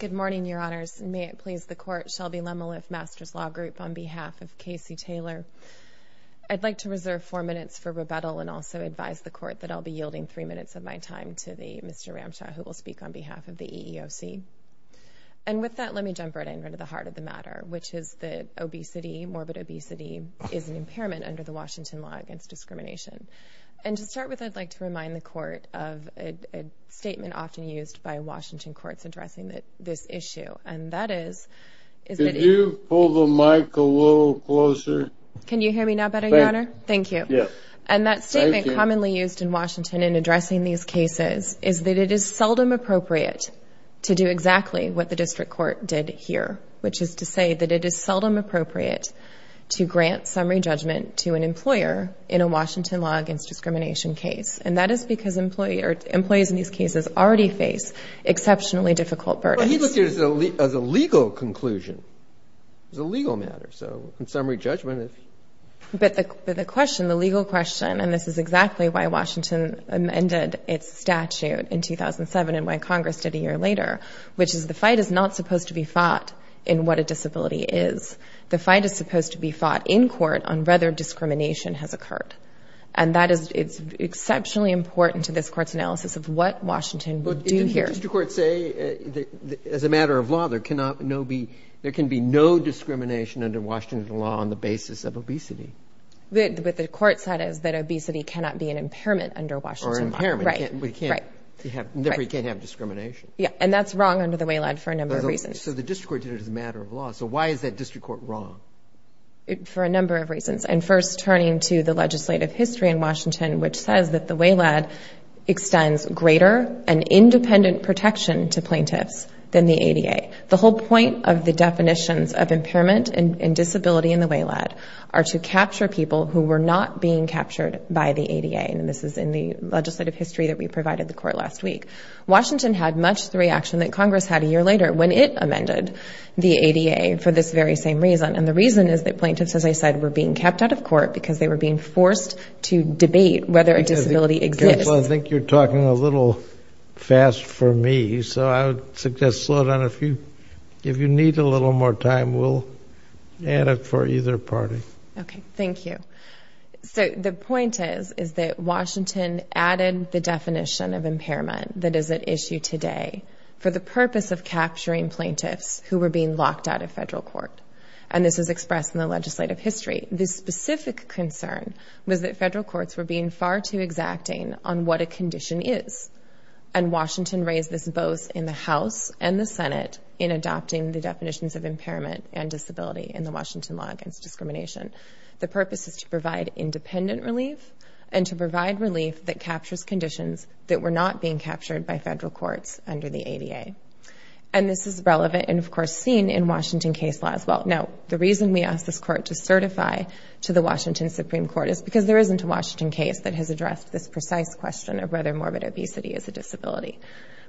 Good morning, Your Honors. May it please the Court, Shelby Lemeliffe, Masters Law Group, on behalf of K.C. Taylor. I'd like to reserve four minutes for rebuttal and also advise the Court that I'll be yielding three minutes of my time to Mr. Ramshaw, who will speak on behalf of the EEOC. And with that, let me jump right in, right to the heart of the matter, which is that morbid obesity is an impairment under the Washington law against discrimination. And to start with, I'd like to remind the Court of a statement often used by Washington courts addressing this issue, and that is... Could you pull the mic a little closer? Can you hear me now better, Your Honor? Thank you. Yes. Thank you. And that statement commonly used in Washington in addressing these cases is that it is seldom appropriate to do exactly what the district court did here, which is to say that it is seldom appropriate to grant summary judgment to an employer in a Washington law against discrimination case. And that is because employees in these cases already face exceptionally difficult burdens. Well, he looked at it as a legal conclusion. It was a legal matter. So in summary judgment... But the question, the legal question, and this is exactly why Washington amended its statute in 2007 and why Congress did a year later, which is the fight is not supposed to be fought in what a disability is. The fight is supposed to be fought in court on whether discrimination has occurred. And that is exceptionally important to this court's analysis of what Washington would do here. But didn't the district court say that as a matter of law, there can be no discrimination under Washington law on the basis of obesity? What the court said is that obesity cannot be an impairment under Washington law. Or an impairment. Right. Right. We can't have discrimination. Yeah. And that's wrong under the WALAD for a number of reasons. So the district court did it as a matter of law. So why is that district court wrong? For a number of reasons. And first, turning to the legislative history in Washington, which says that the WALAD extends greater and independent protection to plaintiffs than the ADA. The whole point of the definitions of impairment and disability in the WALAD are to capture people who were not being captured by the ADA. And this is in the legislative history that we provided the court last week. Washington had much the reaction that Congress had a year later when it amended the ADA for this very same reason. And the reason is that plaintiffs, as I said, were being kept out of court because they were being forced to debate whether a disability exists. I think you're talking a little fast for me. So I would suggest slow down. If you need a little more time, we'll add it for either party. Okay. Thank you. So the point is, is that Washington added the definition of impairment that is at issue today for the purpose of capturing plaintiffs who were being locked out of federal court. And this is expressed in the legislative history. The specific concern was that federal courts were being far too exacting on what a condition is. And Washington raised this both in the House and the Senate in adopting the definitions of impairment and disability in the Washington law against discrimination. The purpose is to provide independent relief and to provide relief that captures conditions that were not being captured by federal courts under the ADA. And this is relevant and, of course, seen in Washington case law as well. Now, the reason we asked this court to certify to the Washington Supreme Court is because there isn't a Washington case that has addressed this precise question of whether morbid obesity is a disability.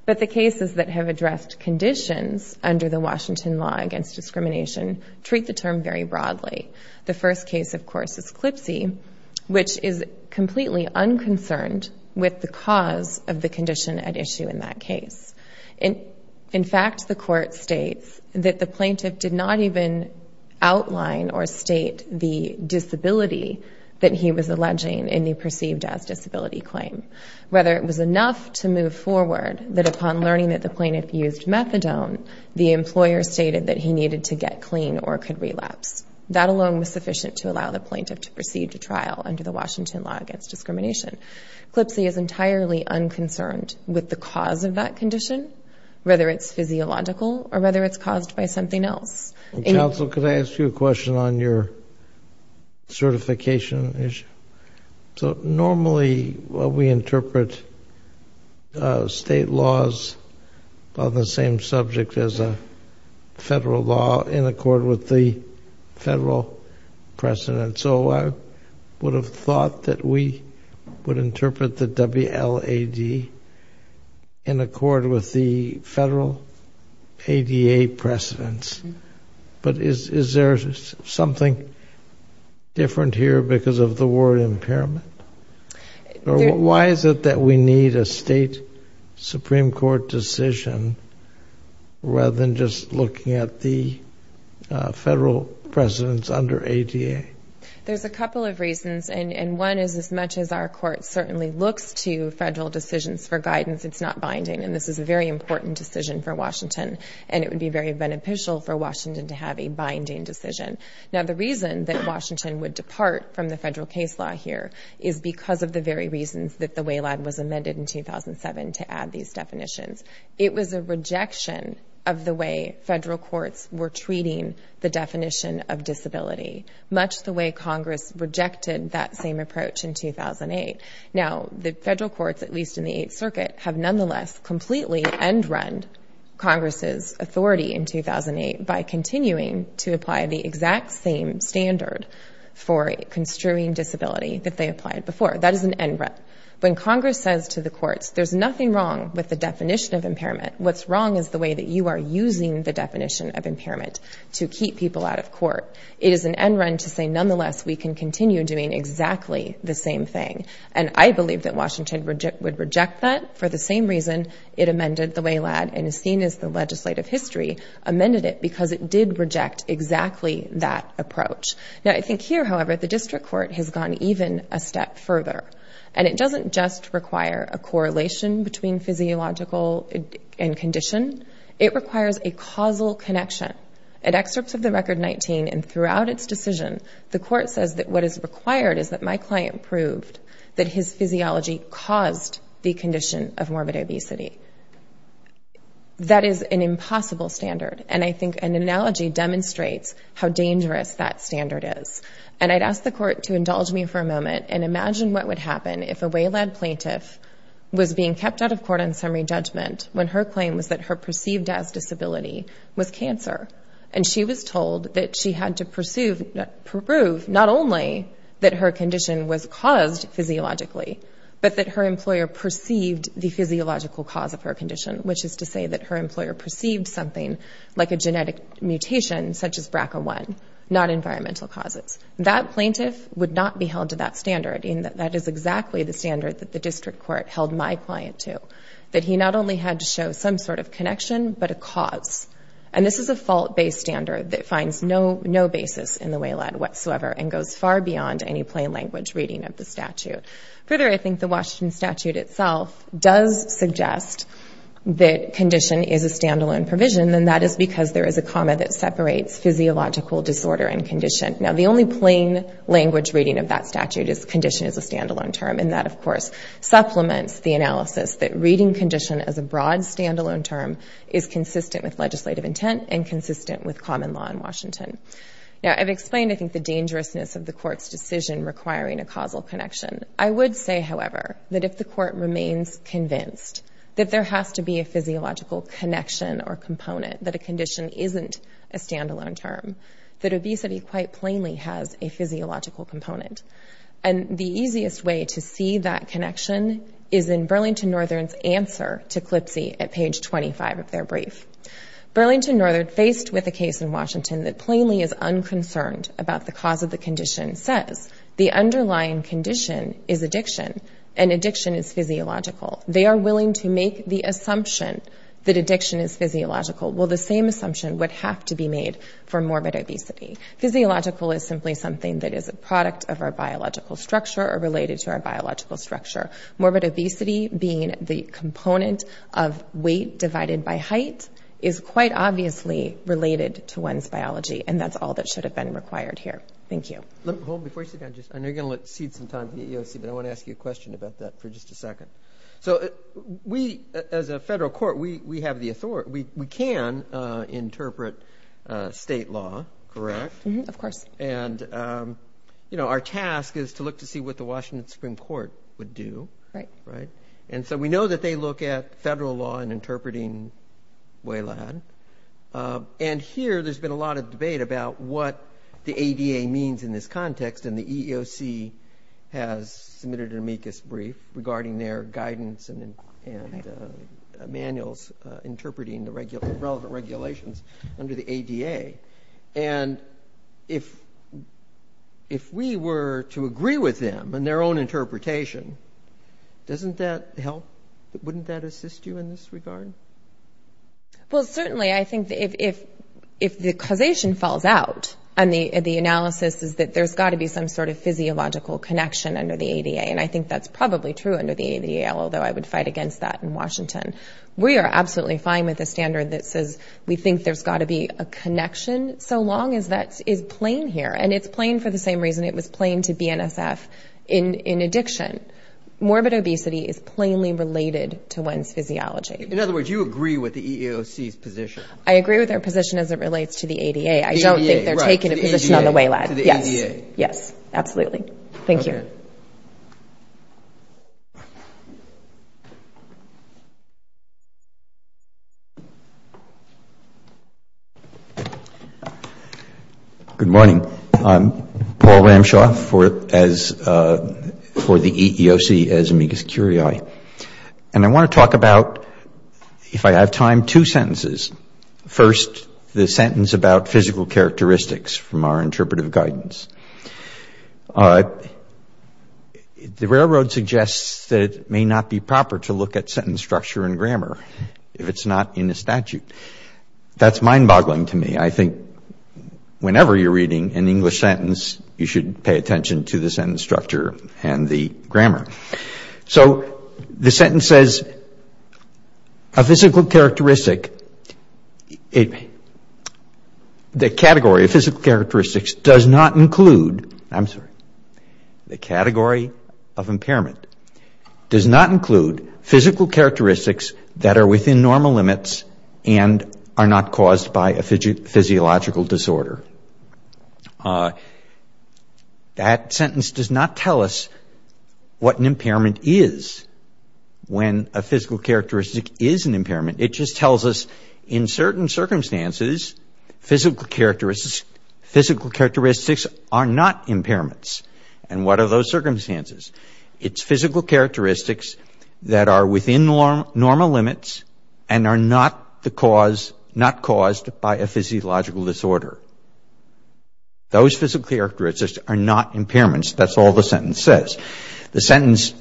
But the cases that have addressed conditions under the Washington law against discrimination treat the term very broadly. The first case, of course, is CLPSI, which is completely unconcerned with the cause of the condition at issue in that case. In fact, the court states that the plaintiff did not even outline or state the disability that he was alleging in the perceived as disability claim. Whether it was enough to move forward that upon learning that the plaintiff used methadone, the employer stated that he needed to get clean or could relapse. That alone was sufficient to allow the plaintiff to proceed to trial under the Washington law against discrimination. CLPSI is entirely unconcerned with the cause of that condition, whether it's physiological or whether it's caused by something else. Counsel, could I ask you a question on your certification issue? Normally, we interpret state laws on the same subject as a federal law in accord with the federal precedent. So I would have thought that we would interpret the WLAD in accord with the federal ADA precedents. But is there something different here because of the word impairment? Why is it that we need a state Supreme Court decision rather than just looking at the federal precedents under ADA? There's a couple of reasons, and one is as much as our court certainly looks to federal decisions for guidance, it's not binding. And this is a very important decision for Washington, and it would be very beneficial for Washington to have a binding decision. Now, the reason that Washington would depart from the federal case law here is because of the very reasons that the WLAD was amended in 2007 to add these definitions. It was a rejection of the way federal courts were treating the definition of disability, much the way Congress rejected that same approach in 2008. Now, the federal courts, at least in the Eighth Circuit, have nonetheless completely end-run Congress's authority in 2008 by continuing to apply the exact same standard for construing disability that they applied before. That is an end-run. When Congress says to the courts, there's nothing wrong with the definition of impairment. What's wrong is the way that you are using the definition of impairment to keep people out of court. It is an end-run to say, nonetheless, we can continue doing exactly the same thing. And I believe that Washington would reject that for the same reason it amended the WLAD and is seen as the legislative history amended it because it did reject exactly that approach. Now, I think here, however, the district court has gone even a step further. And it doesn't just require a correlation between physiological and condition. It requires a causal connection. At excerpts of the Record 19 and throughout its decision, the court says that what is required is that my client proved that his physiology caused the condition of morbid obesity. That is an impossible standard. And I think an analogy demonstrates how dangerous that standard is. And I'd ask the court to indulge me for a moment and imagine what would happen if a WLAD plaintiff was being kept out of court on summary judgment when her claim was that her perceived as disability was cancer. And she was told that she had to prove not only that her condition was caused physiologically, but that her employer perceived the physiological cause of her condition, which is to say that her employer perceived something like a genetic mutation such as BRCA1, not environmental causes. That plaintiff would not be held to that standard. And that is exactly the standard that the district court held my client to, that he not only had to show some sort of connection, but a cause. And this is a fault-based standard that finds no basis in the WLAD whatsoever and goes far beyond any plain language reading of the statute. Further, I think the Washington statute itself does suggest that condition is a stand-alone provision. And that is because there is a comma that separates physiological disorder and condition. Now, the only plain language reading of that statute is condition is a stand-alone term. And that, of course, supplements the analysis that reading condition as a broad stand-alone term is consistent with legislative intent and consistent with common law in Washington. Now, I've explained, I think, the dangerousness of the court's decision requiring a causal connection. I would say, however, that if the court remains convinced that there has to be a physiological connection or component, that a condition isn't a stand-alone term, that obesity quite plainly has a physiological component. And the easiest way to see that connection is in Burlington Northern's answer to Clipsey at page 25 of their brief. Burlington Northern, faced with a case in Washington that plainly is unconcerned about the cause of the condition, says the underlying condition is addiction and addiction is physiological. They are willing to make the assumption that addiction is physiological. Well, the same assumption would have to be made for morbid obesity. Physiological is simply something that is a product of our biological structure or related to our biological structure. Morbid obesity being the component of weight divided by height is quite obviously related to one's biology. And that's all that should have been required here. Thank you. Before you sit down, I know you're going to cede some time to the EEOC, but I want to ask you a question about that for just a second. So we, as a federal court, we have the authority. We can interpret state law, correct? Of course. And, you know, our task is to look to see what the Washington Supreme Court would do. Right. And so we know that they look at federal law in interpreting WALAD. And here there's been a lot of debate about what the ADA means in this context, and the EEOC has submitted an amicus brief regarding their guidance and manuals interpreting the relevant regulations under the ADA. And if we were to agree with them in their own interpretation, doesn't that help? Wouldn't that assist you in this regard? Well, certainly. I think if the causation falls out and the analysis is that there's got to be some sort of physiological connection under the ADA, and I think that's probably true under the ADA, although I would fight against that in Washington. We are absolutely fine with a standard that says we think there's got to be a connection, so long as that is plain here. And it's plain for the same reason it was plain to BNSF in addiction. Morbid obesity is plainly related to one's physiology. In other words, you agree with the EEOC's position? I agree with their position as it relates to the ADA. I don't think they're taking a position on the WALAD. To the ADA. Yes. Yes, absolutely. Thank you. Okay. Good morning. I'm Paul Ramshaw for the EEOC as amicus curiae. And I want to talk about, if I have time, two sentences. First, the sentence about physical characteristics from our interpretive guidance. The railroad suggests that it may not be proper to look at sentence structure and guidance if it's not in the statute. That's mind-boggling to me. I think whenever you're reading an English sentence, you should pay attention to the sentence structure and the grammar. So the sentence says, a physical characteristic, the category of physical characteristics does not include, I'm sorry, the category of impairment does not include physical characteristics that are within normal limits and are not caused by a physiological disorder. That sentence does not tell us what an impairment is when a physical characteristic is an impairment. It just tells us, in certain circumstances, physical characteristics are not impairments. And what are those circumstances? It's physical characteristics that are within normal limits and are not caused by a physiological disorder. Those physical characteristics are not impairments. That's all the sentence says. The sentence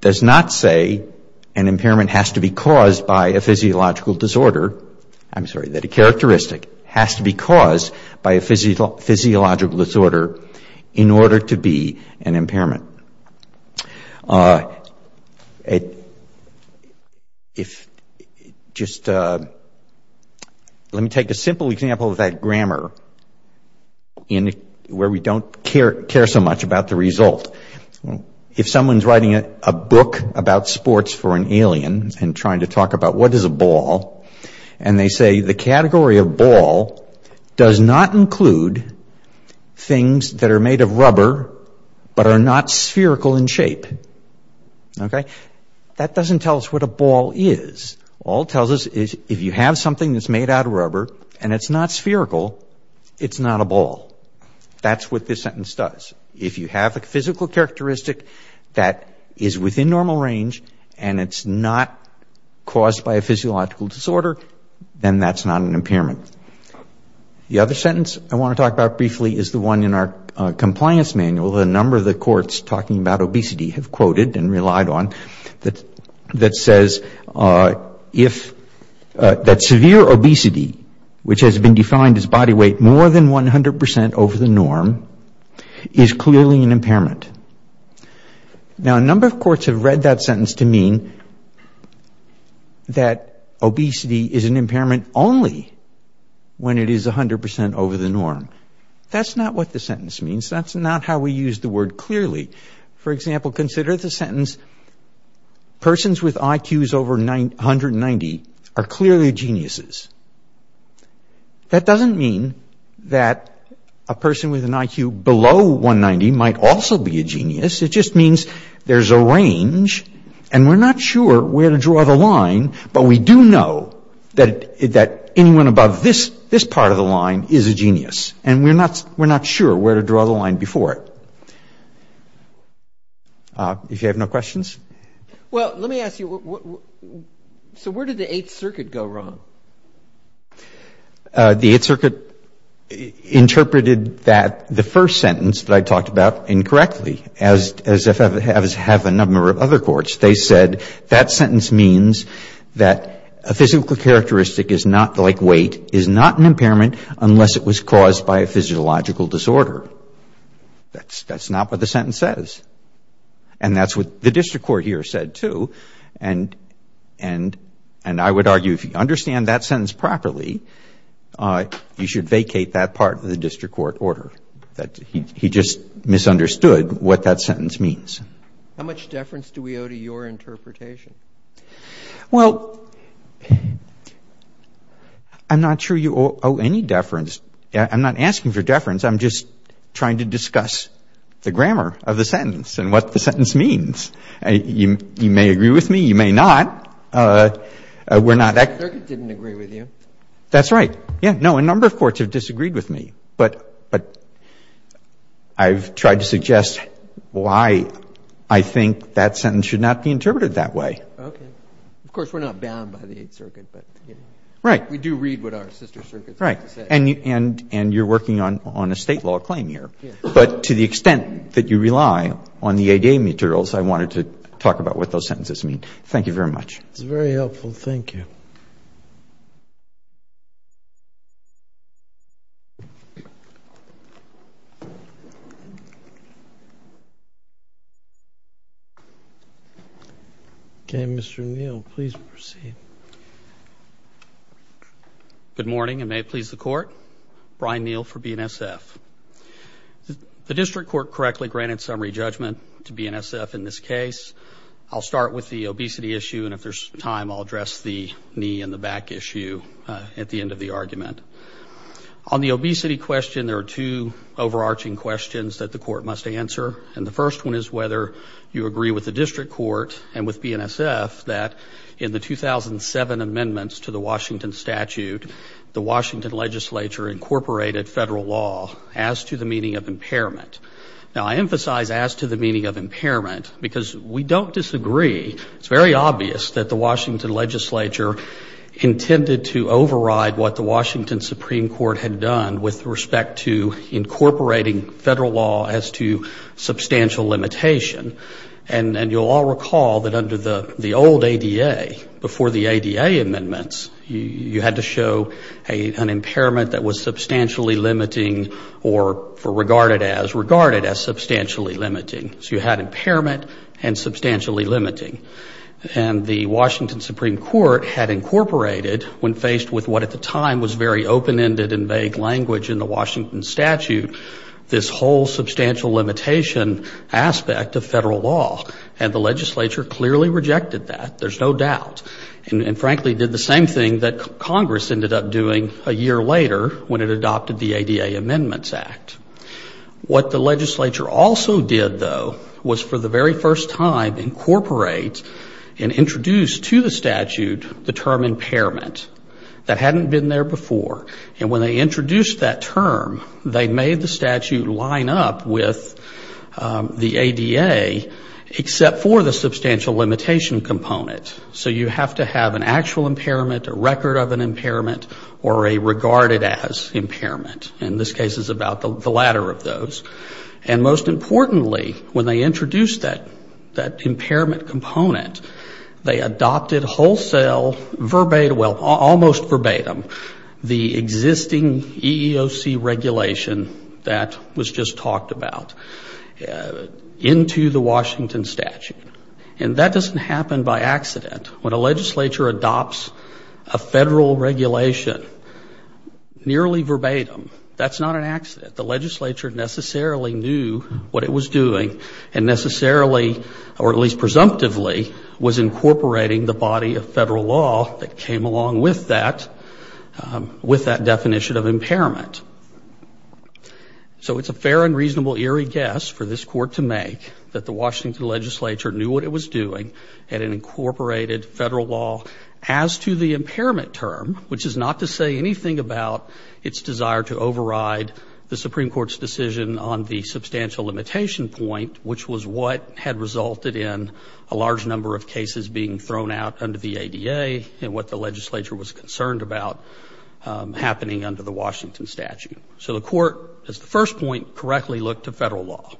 does not say an impairment has to be caused by a physiological disorder. I'm sorry, that a characteristic has to be caused by a physiological disorder in order to be an impairment. If just, let me take a simple example of that grammar where we don't care so much about the result. If someone's writing a book about sports for an alien and trying to talk about what is a ball, and they say the category of ball does not include things that are made of rubber but are not spherical in shape. Okay? That doesn't tell us what a ball is. All it tells us is if you have something that's made out of rubber and it's not spherical, it's not a ball. That's what this sentence does. If you have a physical characteristic that is within normal range and it's not caused by a physiological disorder, then that's not an impairment. The other sentence I want to talk about briefly is the one in our compliance manual, a number of the courts talking about obesity have quoted and relied on, that says that severe obesity, which has been defined as body weight more than 100% over the norm, is clearly an impairment. Now, a number of courts have read that sentence to mean that obesity is an impairment only when it is 100% over the norm. That's not what the sentence means. That's not how we use the word clearly. For example, consider the sentence, persons with IQs over 190 are clearly geniuses. That doesn't mean that a person with an IQ below 190 might also be a genius. It just means there's a range, and we're not sure where to draw the line, but we do know that anyone above this part of the line is a genius, and we're not sure where to draw the line before it. If you have no questions? Well, let me ask you, so where did the Eighth Circuit go wrong? The Eighth Circuit interpreted that the first sentence that I talked about incorrectly, as have a number of other courts. They said that sentence means that a physical characteristic is not like weight, is not an impairment unless it was caused by a physiological disorder. That's not what the sentence says, and that's what the district court here said too, and I would argue if you understand that sentence properly, you should vacate that part of the district court order. He just misunderstood what that sentence means. How much deference do we owe to your interpretation? Well, I'm not sure you owe any deference. I'm not asking for deference. I'm just trying to discuss the grammar of the sentence and what the sentence means. You may agree with me. You may not. The Circuit didn't agree with you. That's right. No, a number of courts have disagreed with me, but I've tried to suggest why I think that sentence should not be interpreted that way. Okay. Of course, we're not bound by the Eighth Circuit. Right. We do read what our sister circuits have to say. Right, and you're working on a State law claim here, but to the extent that you rely on the ADA materials, I wanted to talk about what those sentences mean. Thank you very much. That's very helpful. Thank you. Okay, Mr. Neal, please proceed. Good morning, and may it please the Court. Brian Neal for BNSF. The district court correctly granted summary judgment to BNSF in this case. I'll start with the obesity issue, and if there's time I'll address the knee and the back issue at the end of the argument. On the obesity question, there are two overarching questions that the Court must answer, and the first one is whether you agree with the district court and with BNSF that in the 2007 amendments to the Washington statute, the Washington legislature incorporated federal law as to the meaning of impairment. Now, I emphasize as to the meaning of impairment because we don't disagree. It's very obvious that the Washington legislature intended to override what the Washington Supreme Court had done with respect to incorporating federal law as to substantial limitation, and you'll all recall that under the old ADA, before the ADA amendments, you had to show an impairment that was substantially limiting or regarded as substantially limiting. So you had impairment and substantially limiting. And the Washington Supreme Court had incorporated, when faced with what at the time was very open-ended and vague language in the Washington statute, this whole substantial limitation aspect of federal law, and the legislature clearly rejected that. There's no doubt. And, frankly, did the same thing that Congress ended up doing a year later when it adopted the ADA Amendments Act. What the legislature also did, though, was for the very first time incorporate and introduce to the statute the term impairment. That hadn't been there before. And when they introduced that term, they made the statute line up with the ADA, except for the substantial limitation component. So you have to have an actual impairment, a record of an impairment, or a regarded as impairment. And this case is about the latter of those. And, most importantly, when they introduced that impairment component, they adopted wholesale verbatim, well, almost verbatim, the existing EEOC regulation that was just talked about into the Washington statute. And that doesn't happen by accident. When a legislature adopts a federal regulation nearly verbatim, that's not an accident. The legislature necessarily knew what it was doing and necessarily, or at least presumptively, was incorporating the body of federal law that came along with that definition of impairment. So it's a fair and reasonable eerie guess for this court to make that the Washington legislature knew what it was doing and it incorporated federal law as to the impairment term, which is not to say anything about its desire to override the Supreme Court's decision on the substantial limitation point, which was what had resulted in a large number of cases being thrown out under the ADA and what the legislature was concerned about happening under the Washington statute. So the court, as the first point, correctly looked to federal law.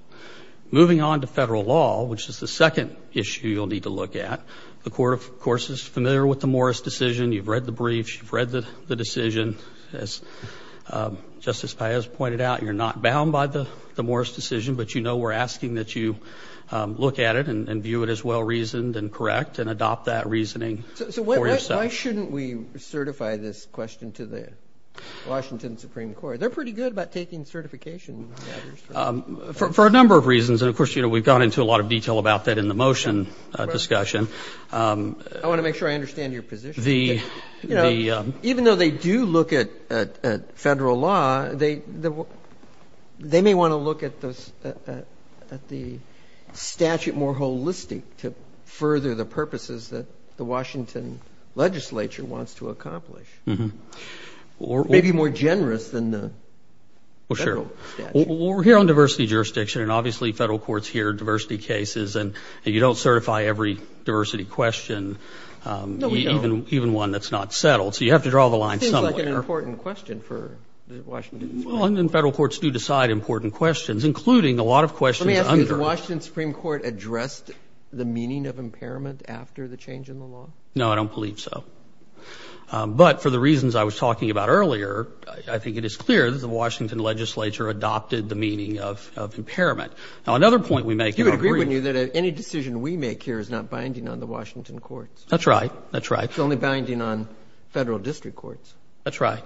Moving on to federal law, which is the second issue you'll need to look at, the court, of course, is familiar with the Morris decision. You've read the briefs. You've read the decision. As Justice Paez pointed out, you're not bound by the Morris decision, but you know we're asking that you look at it and view it as well-reasoned and correct and adopt that reasoning for yourself. So why shouldn't we certify this question to the Washington Supreme Court? They're pretty good about taking certification matters. For a number of reasons. And, of course, we've gone into a lot of detail about that in the motion discussion. I want to make sure I understand your position. Even though they do look at federal law, they may want to look at the statute more holistic to further the purposes that the Washington legislature wants to accomplish. Maybe more generous than the federal statute. Well, we're here on diversity jurisdiction, and obviously federal courts hear diversity cases, and you don't certify every diversity question, even one that's not settled. So you have to draw the line somewhere. That seems like an important question for the Washington Supreme Court. Well, and federal courts do decide important questions, including a lot of questions. Let me ask you, did the Washington Supreme Court address the meaning of impairment after the change in the law? No, I don't believe so. But for the reasons I was talking about earlier, I think it is clear that the Washington legislature adopted the meaning of impairment. Now, another point we make in our brief. You would agree with me that any decision we make here is not binding on the Washington courts. That's right. That's right. It's only binding on Federal district courts. That's right.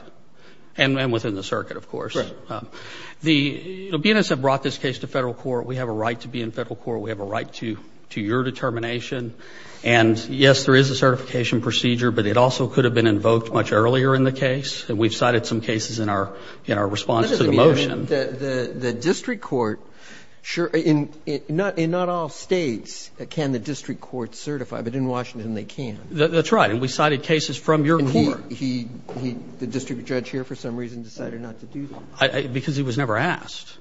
And within the circuit, of course. Right. The BNSF brought this case to Federal court. We have a right to be in Federal court. We have a right to your determination. And, yes, there is a certification procedure, but it also could have been invoked much earlier in the case, and we've cited some cases in our response to the motion. The district court, in not all States can the district court certify, but in Washington they can. That's right. And we cited cases from your court. And he, the district judge here for some reason decided not to do that. Because he was never asked.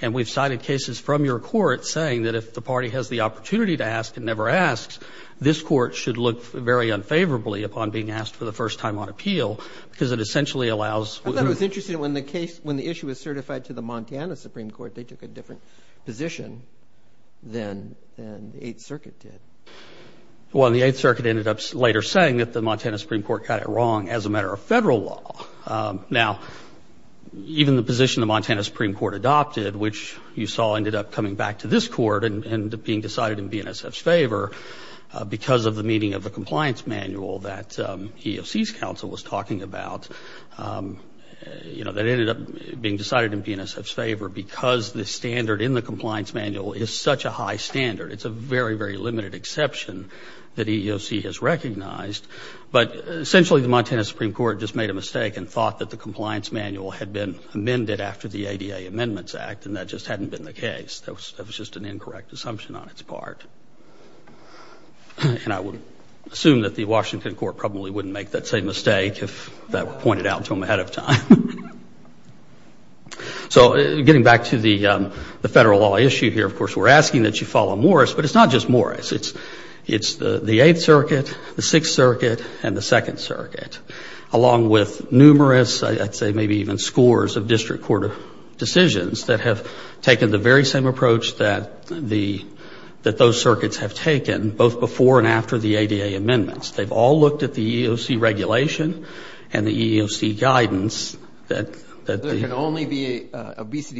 And we've cited cases from your court saying that if the party has the opportunity to ask and never asks, this court should look very unfavorably upon being asked for the first time on appeal because it essentially allows. I thought it was interesting when the issue was certified to the Montana Supreme Court, they took a different position than the Eighth Circuit did. Well, the Eighth Circuit ended up later saying that the Montana Supreme Court got it wrong as a matter of Federal law. Now, even the position the Montana Supreme Court adopted, which you saw ended up coming back to this court and being decided in BNSF's favor because of the meaning of the compliance manual that EOC's counsel was talking about, that ended up being decided in BNSF's favor because the standard in the compliance manual is such a high standard. It's a very, very limited exception that EOC has recognized. But essentially the Montana Supreme Court just made a mistake and thought that the compliance manual had been amended after the ADA Amendments Act and that just hadn't been the case. That was just an incorrect assumption on its part. And I would assume that the Washington court probably wouldn't make that same mistake if that were pointed out to them ahead of time. So getting back to the Federal law issue here, of course we're asking that you follow Morris, but it's not just Morris. It's the Eighth Circuit, the Sixth Circuit, and the Second Circuit, along with numerous, I'd say maybe even scores of district court decisions that have taken the very same approach that those circuits have taken, both before and after the ADA Amendments. They've all looked at the EEOC regulation and the EEOC guidance. Obesity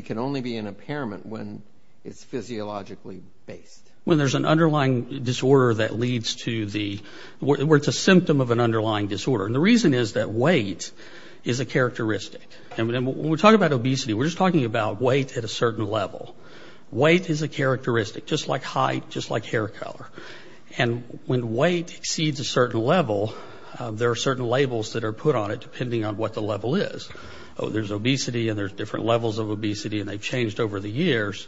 can only be an impairment when it's physiologically based. When there's an underlying disorder that leads to the, where it's a symptom of an underlying disorder. And the reason is that weight is a characteristic. And when we talk about obesity, we're just talking about weight at a certain level. Weight is a characteristic, just like height, just like hair color. And when weight exceeds a certain level, there are certain labels that are put on it depending on what the level is. Oh, there's obesity, and there's different levels of obesity, and they've changed over the years.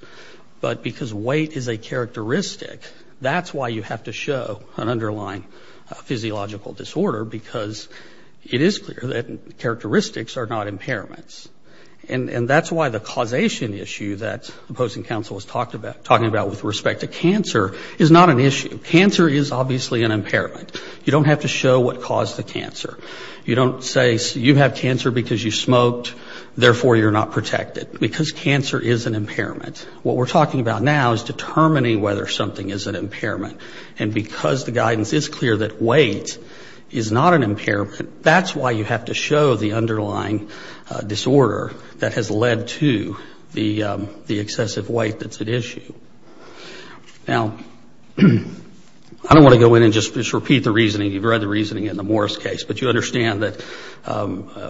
But because weight is a characteristic, that's why you have to show an underlying physiological disorder, because it is clear that characteristics are not impairments. And that's why the causation issue that the opposing counsel was talking about with respect to cancer is not an issue. Cancer is obviously an impairment. You don't have to show what caused the cancer. You don't say you have cancer because you smoked, therefore you're not protected. Because cancer is an impairment. What we're talking about now is determining whether something is an impairment. And because the guidance is clear that weight is not an impairment, that's why you have to show the underlying disorder that has led to the excessive weight that's at issue. Now, I don't want to go in and just repeat the reasoning. You've read the reasoning in the Morris case. But you understand that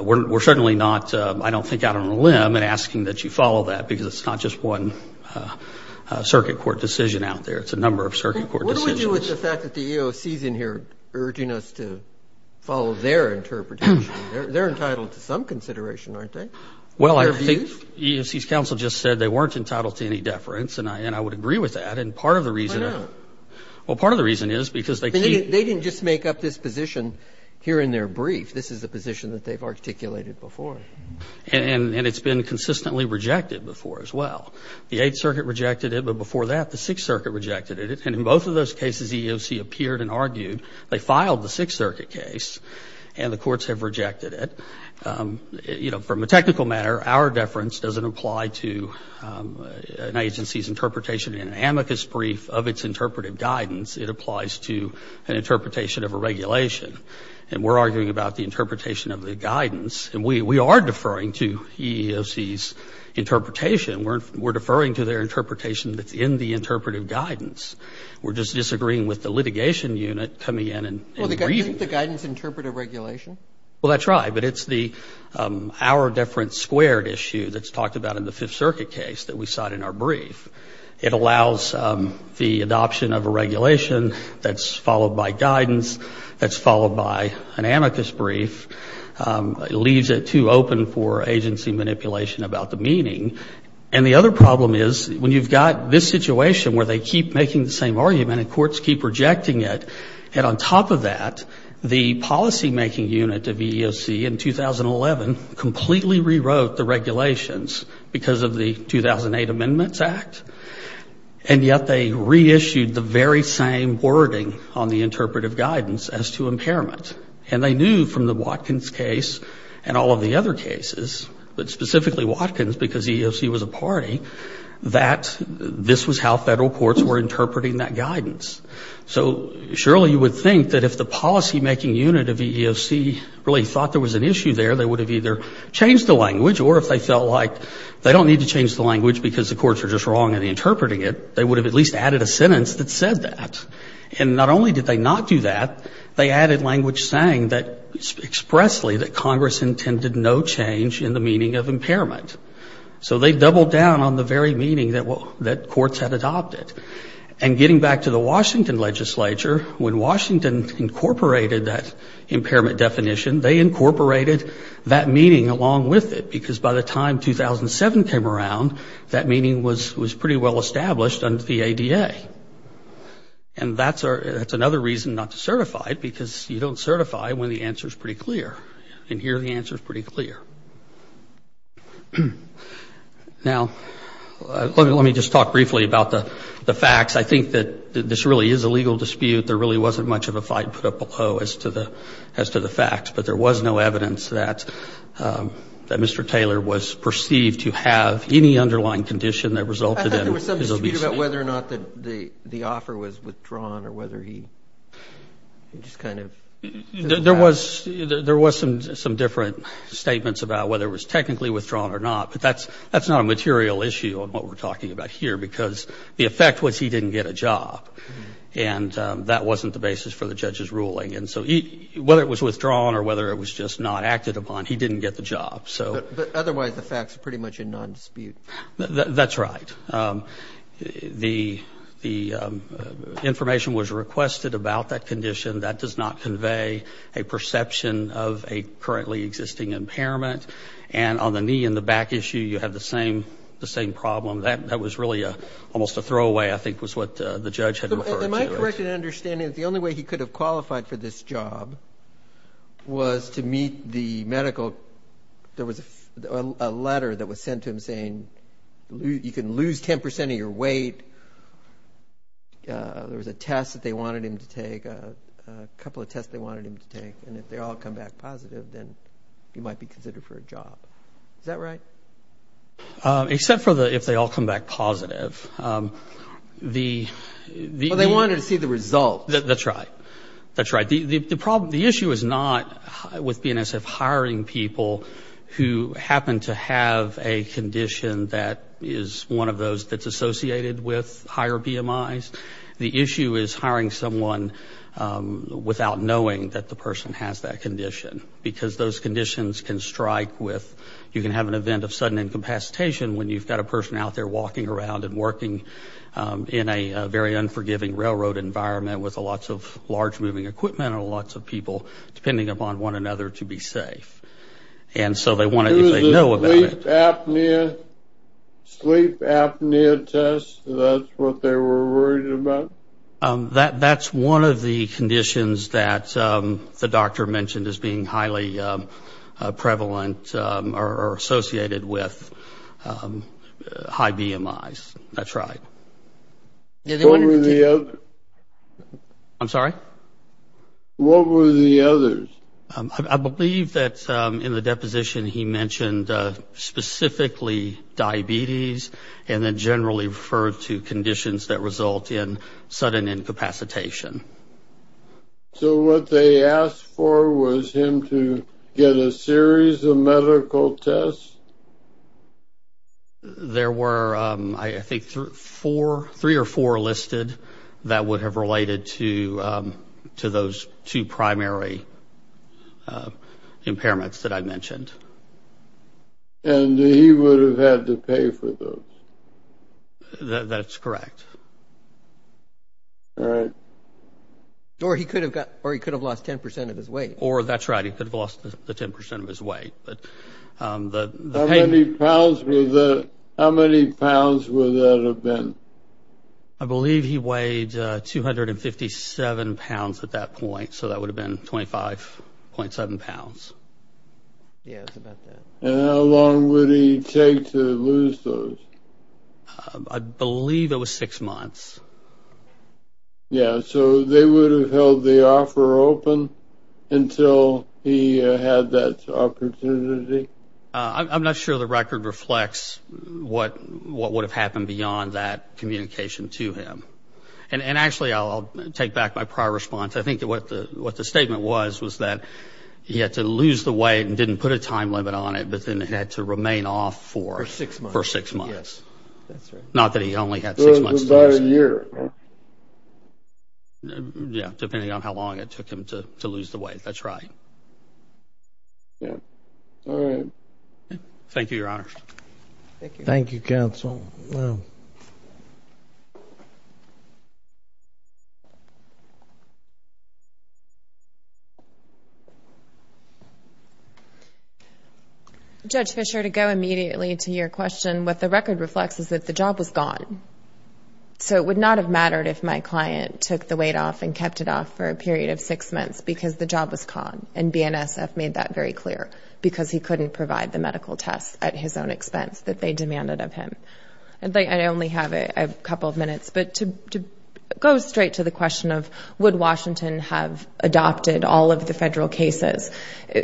we're certainly not, I don't think, out on a limb in asking that you follow that, because it's not just one circuit court decision out there. It's a number of circuit court decisions. What do we do with the fact that the EOC's in here urging us to follow their interpretation? They're entitled to some consideration, aren't they? Well, I think the EOC's counsel just said they weren't entitled to any deference, and I would agree with that. Why not? Well, part of the reason is because they keep- They didn't just make up this position here in their brief. This is a position that they've articulated before. And it's been consistently rejected before as well. The Eighth Circuit rejected it, but before that, the Sixth Circuit rejected it. And in both of those cases, the EOC appeared and argued. They filed the Sixth Circuit case, and the courts have rejected it. From a technical matter, our deference doesn't apply to an agency's interpretation in an amicus brief of its interpretive guidance. It applies to an interpretation of a regulation. And we're arguing about the interpretation of the guidance. And we are deferring to EEOC's interpretation. We're deferring to their interpretation that's in the interpretive guidance. We're just disagreeing with the litigation unit coming in and- Well, isn't the guidance interpretive regulation? Well, that's right. But it's the our deference squared issue that's talked about in the Fifth Circuit case that we cite in our brief. It allows the adoption of a regulation that's followed by guidance, that's followed by an amicus brief. It leaves it too open for agency manipulation about the meaning. And the other problem is when you've got this situation where they keep making the same argument and courts keep rejecting it, and on top of that, the policymaking unit of EEOC in 2011 completely rewrote the regulations because of the 2008 Amendments Act. And yet they reissued the very same wording on the interpretive guidance as to impairment. And they knew from the Watkins case and all of the other cases, but specifically Watkins because EEOC was a party, that this was how federal courts were interpreting that guidance. So surely you would think that if the policymaking unit of EEOC really thought there was an issue there, they would have either changed the language or if they felt like they don't need to change the language because the courts are just wrong in interpreting it, they would have at least added a sentence that said that. And not only did they not do that, they added language saying that expressly that Congress intended no change in the meaning of impairment. So they doubled down on the very meaning that courts had adopted. And getting back to the Washington legislature, when Washington incorporated that impairment definition, they incorporated that meaning along with it because by the time 2007 came around, that meaning was pretty well established under the ADA. And that's another reason not to certify it because you don't certify when the answer is pretty clear. And here the answer is pretty clear. Now, let me just talk briefly about the facts. I think that this really is a legal dispute. There really wasn't much of a fight put up below as to the facts, but there was no evidence that Mr. Taylor was perceived to have any underlying condition that resulted in his obesity. I thought there was some dispute about whether or not the offer was withdrawn or whether he just kind of. There was some different statements about whether it was technically withdrawn or not, but that's not a material issue on what we're talking about here because the effect was he didn't get a job. And that wasn't the basis for the judge's ruling. And so whether it was withdrawn or whether it was just not acted upon, he didn't get the job. But otherwise the fact is pretty much a non-dispute. That's right. The information was requested about that condition. That does not convey a perception of a currently existing impairment. And on the knee and the back issue, you have the same problem. That was really almost a throwaway, I think, was what the judge had referred to. Am I correct in understanding that the only way he could have qualified for this job was to meet the medical? There was a letter that was sent to him saying you can lose 10 percent of your weight. There was a test that they wanted him to take, a couple of tests they wanted him to take, and if they all come back positive, then he might be considered for a job. Is that right? Except for if they all come back positive. Well, they wanted to see the results. That's right. That's right. The issue is not with BNSF hiring people who happen to have a condition that is one of those that's associated with higher BMIs. The issue is hiring someone without knowing that the person has that condition because those conditions can strike with you can have an event of sudden incapacitation when you've got a person out there walking around and working in a very unforgiving railroad environment with lots of large moving equipment and lots of people depending upon one another to be safe. It was a sleep apnea test? That's what they were worried about? That's one of the conditions that the doctor mentioned as being highly prevalent or associated with high BMIs. That's right. What were the others? I'm sorry? What were the others? I believe that in the deposition he mentioned specifically diabetes and then generally referred to conditions that result in sudden incapacitation. So what they asked for was him to get a series of medical tests? There were I think three or four listed that would have related to those two primary impairments that I mentioned. And he would have had to pay for those? That's correct. All right. Or he could have lost 10% of his weight. Or that's right, he could have lost the 10% of his weight. How many pounds would that have been? I believe he weighed 257 pounds at that point, so that would have been 25.7 pounds. Yes, about that. And how long would he take to lose those? I believe it was six months. Yes, so they would have held the offer open until he had that opportunity. I'm not sure the record reflects what would have happened beyond that communication to him. And actually I'll take back my prior response. I think what the statement was was that he had to lose the weight and didn't put a time limit on it, but then he had to remain off for six months. Not that he only had six months. About a year. Yeah, depending on how long it took him to lose the weight, that's right. All right. Thank you, counsel. Judge Fischer, to go immediately to your question, what the record reflects is that the job was gone. So it would not have mattered if my client took the weight off and kept it off for a period of six months because the job was gone. And BNSF made that very clear, because he couldn't provide the medical tests at his own expense I only have a couple of minutes. But to go straight to the question of would Washington have adopted all of the federal cases,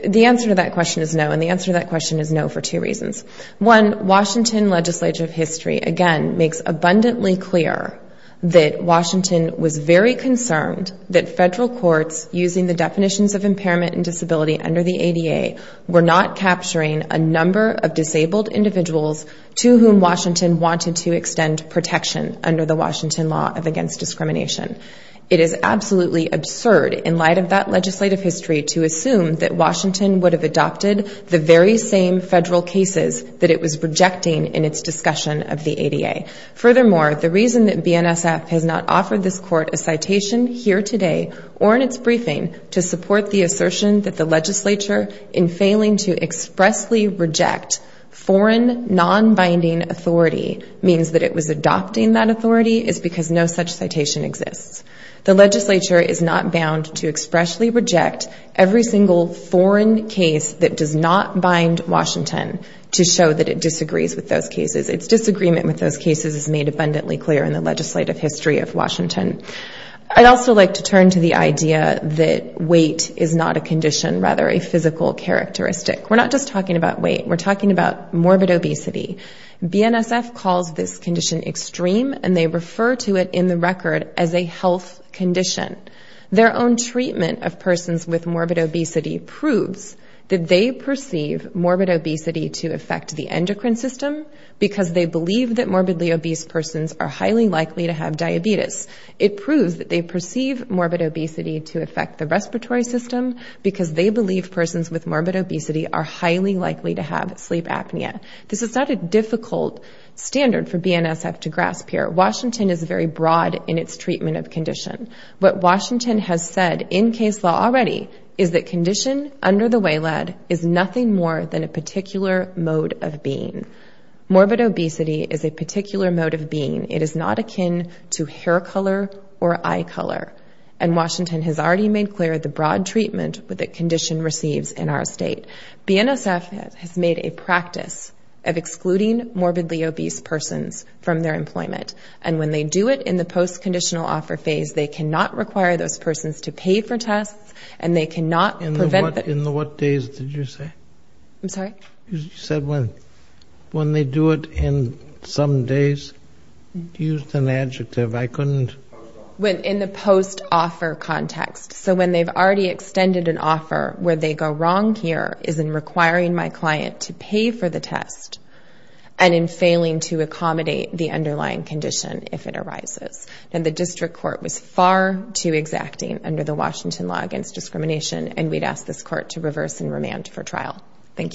the answer to that question is no, and the answer to that question is no for two reasons. One, Washington Legislature of History, again, makes abundantly clear that Washington was very concerned that federal courts, using the definitions of impairment and disability under the ADA, were not capturing a number of disabled individuals to whom Washington wanted to extend protection under the Washington Law of Against Discrimination. It is absolutely absurd, in light of that legislative history, to assume that Washington would have adopted the very same federal cases that it was rejecting in its discussion of the ADA. Furthermore, the reason that BNSF has not offered this court a citation here today or in its briefing to support the assertion that the legislature in failing to expressly reject foreign non-binding authority means that it was adopting that authority is because no such citation exists. The legislature is not bound to expressly reject every single foreign case that does not bind Washington to show that it disagrees with those cases. Its disagreement with those cases is made abundantly clear in the legislative history of Washington. I'd also like to turn to the idea that weight is not a condition, rather a physical characteristic. We're not just talking about weight. We're talking about morbid obesity. BNSF calls this condition extreme, and they refer to it in the record as a health condition. Their own treatment of persons with morbid obesity proves that they perceive morbid obesity to affect the endocrine system, because they believe that morbidly obese persons are highly likely to have diabetes. It proves that they perceive morbid obesity to affect the respiratory system, because they believe persons with morbid obesity are highly likely to have sleep apnea. This is not a difficult standard for BNSF to grasp here. Washington is very broad in its treatment of condition. What Washington has said in case law already is that condition under the way lead is nothing more than a particular mode of being. Morbid obesity is a particular mode of being. It is not akin to hair color or eye color, and Washington has already made clear the broad treatment that condition receives in our state. BNSF has made a practice of excluding morbidly obese persons from their employment, and when they do it in the post-conditional offer phase, they cannot require those persons to pay for tests, and they cannot prevent the... I'm sorry? In the post-offer context, so when they've already extended an offer, where they go wrong here is in requiring my client to pay for the test, and in failing to accommodate the underlying condition if it arises. And the district court was far too exacting under the Washington Law Against Discrimination, and we'd ask this court to reverse and remand for trial. Thank you.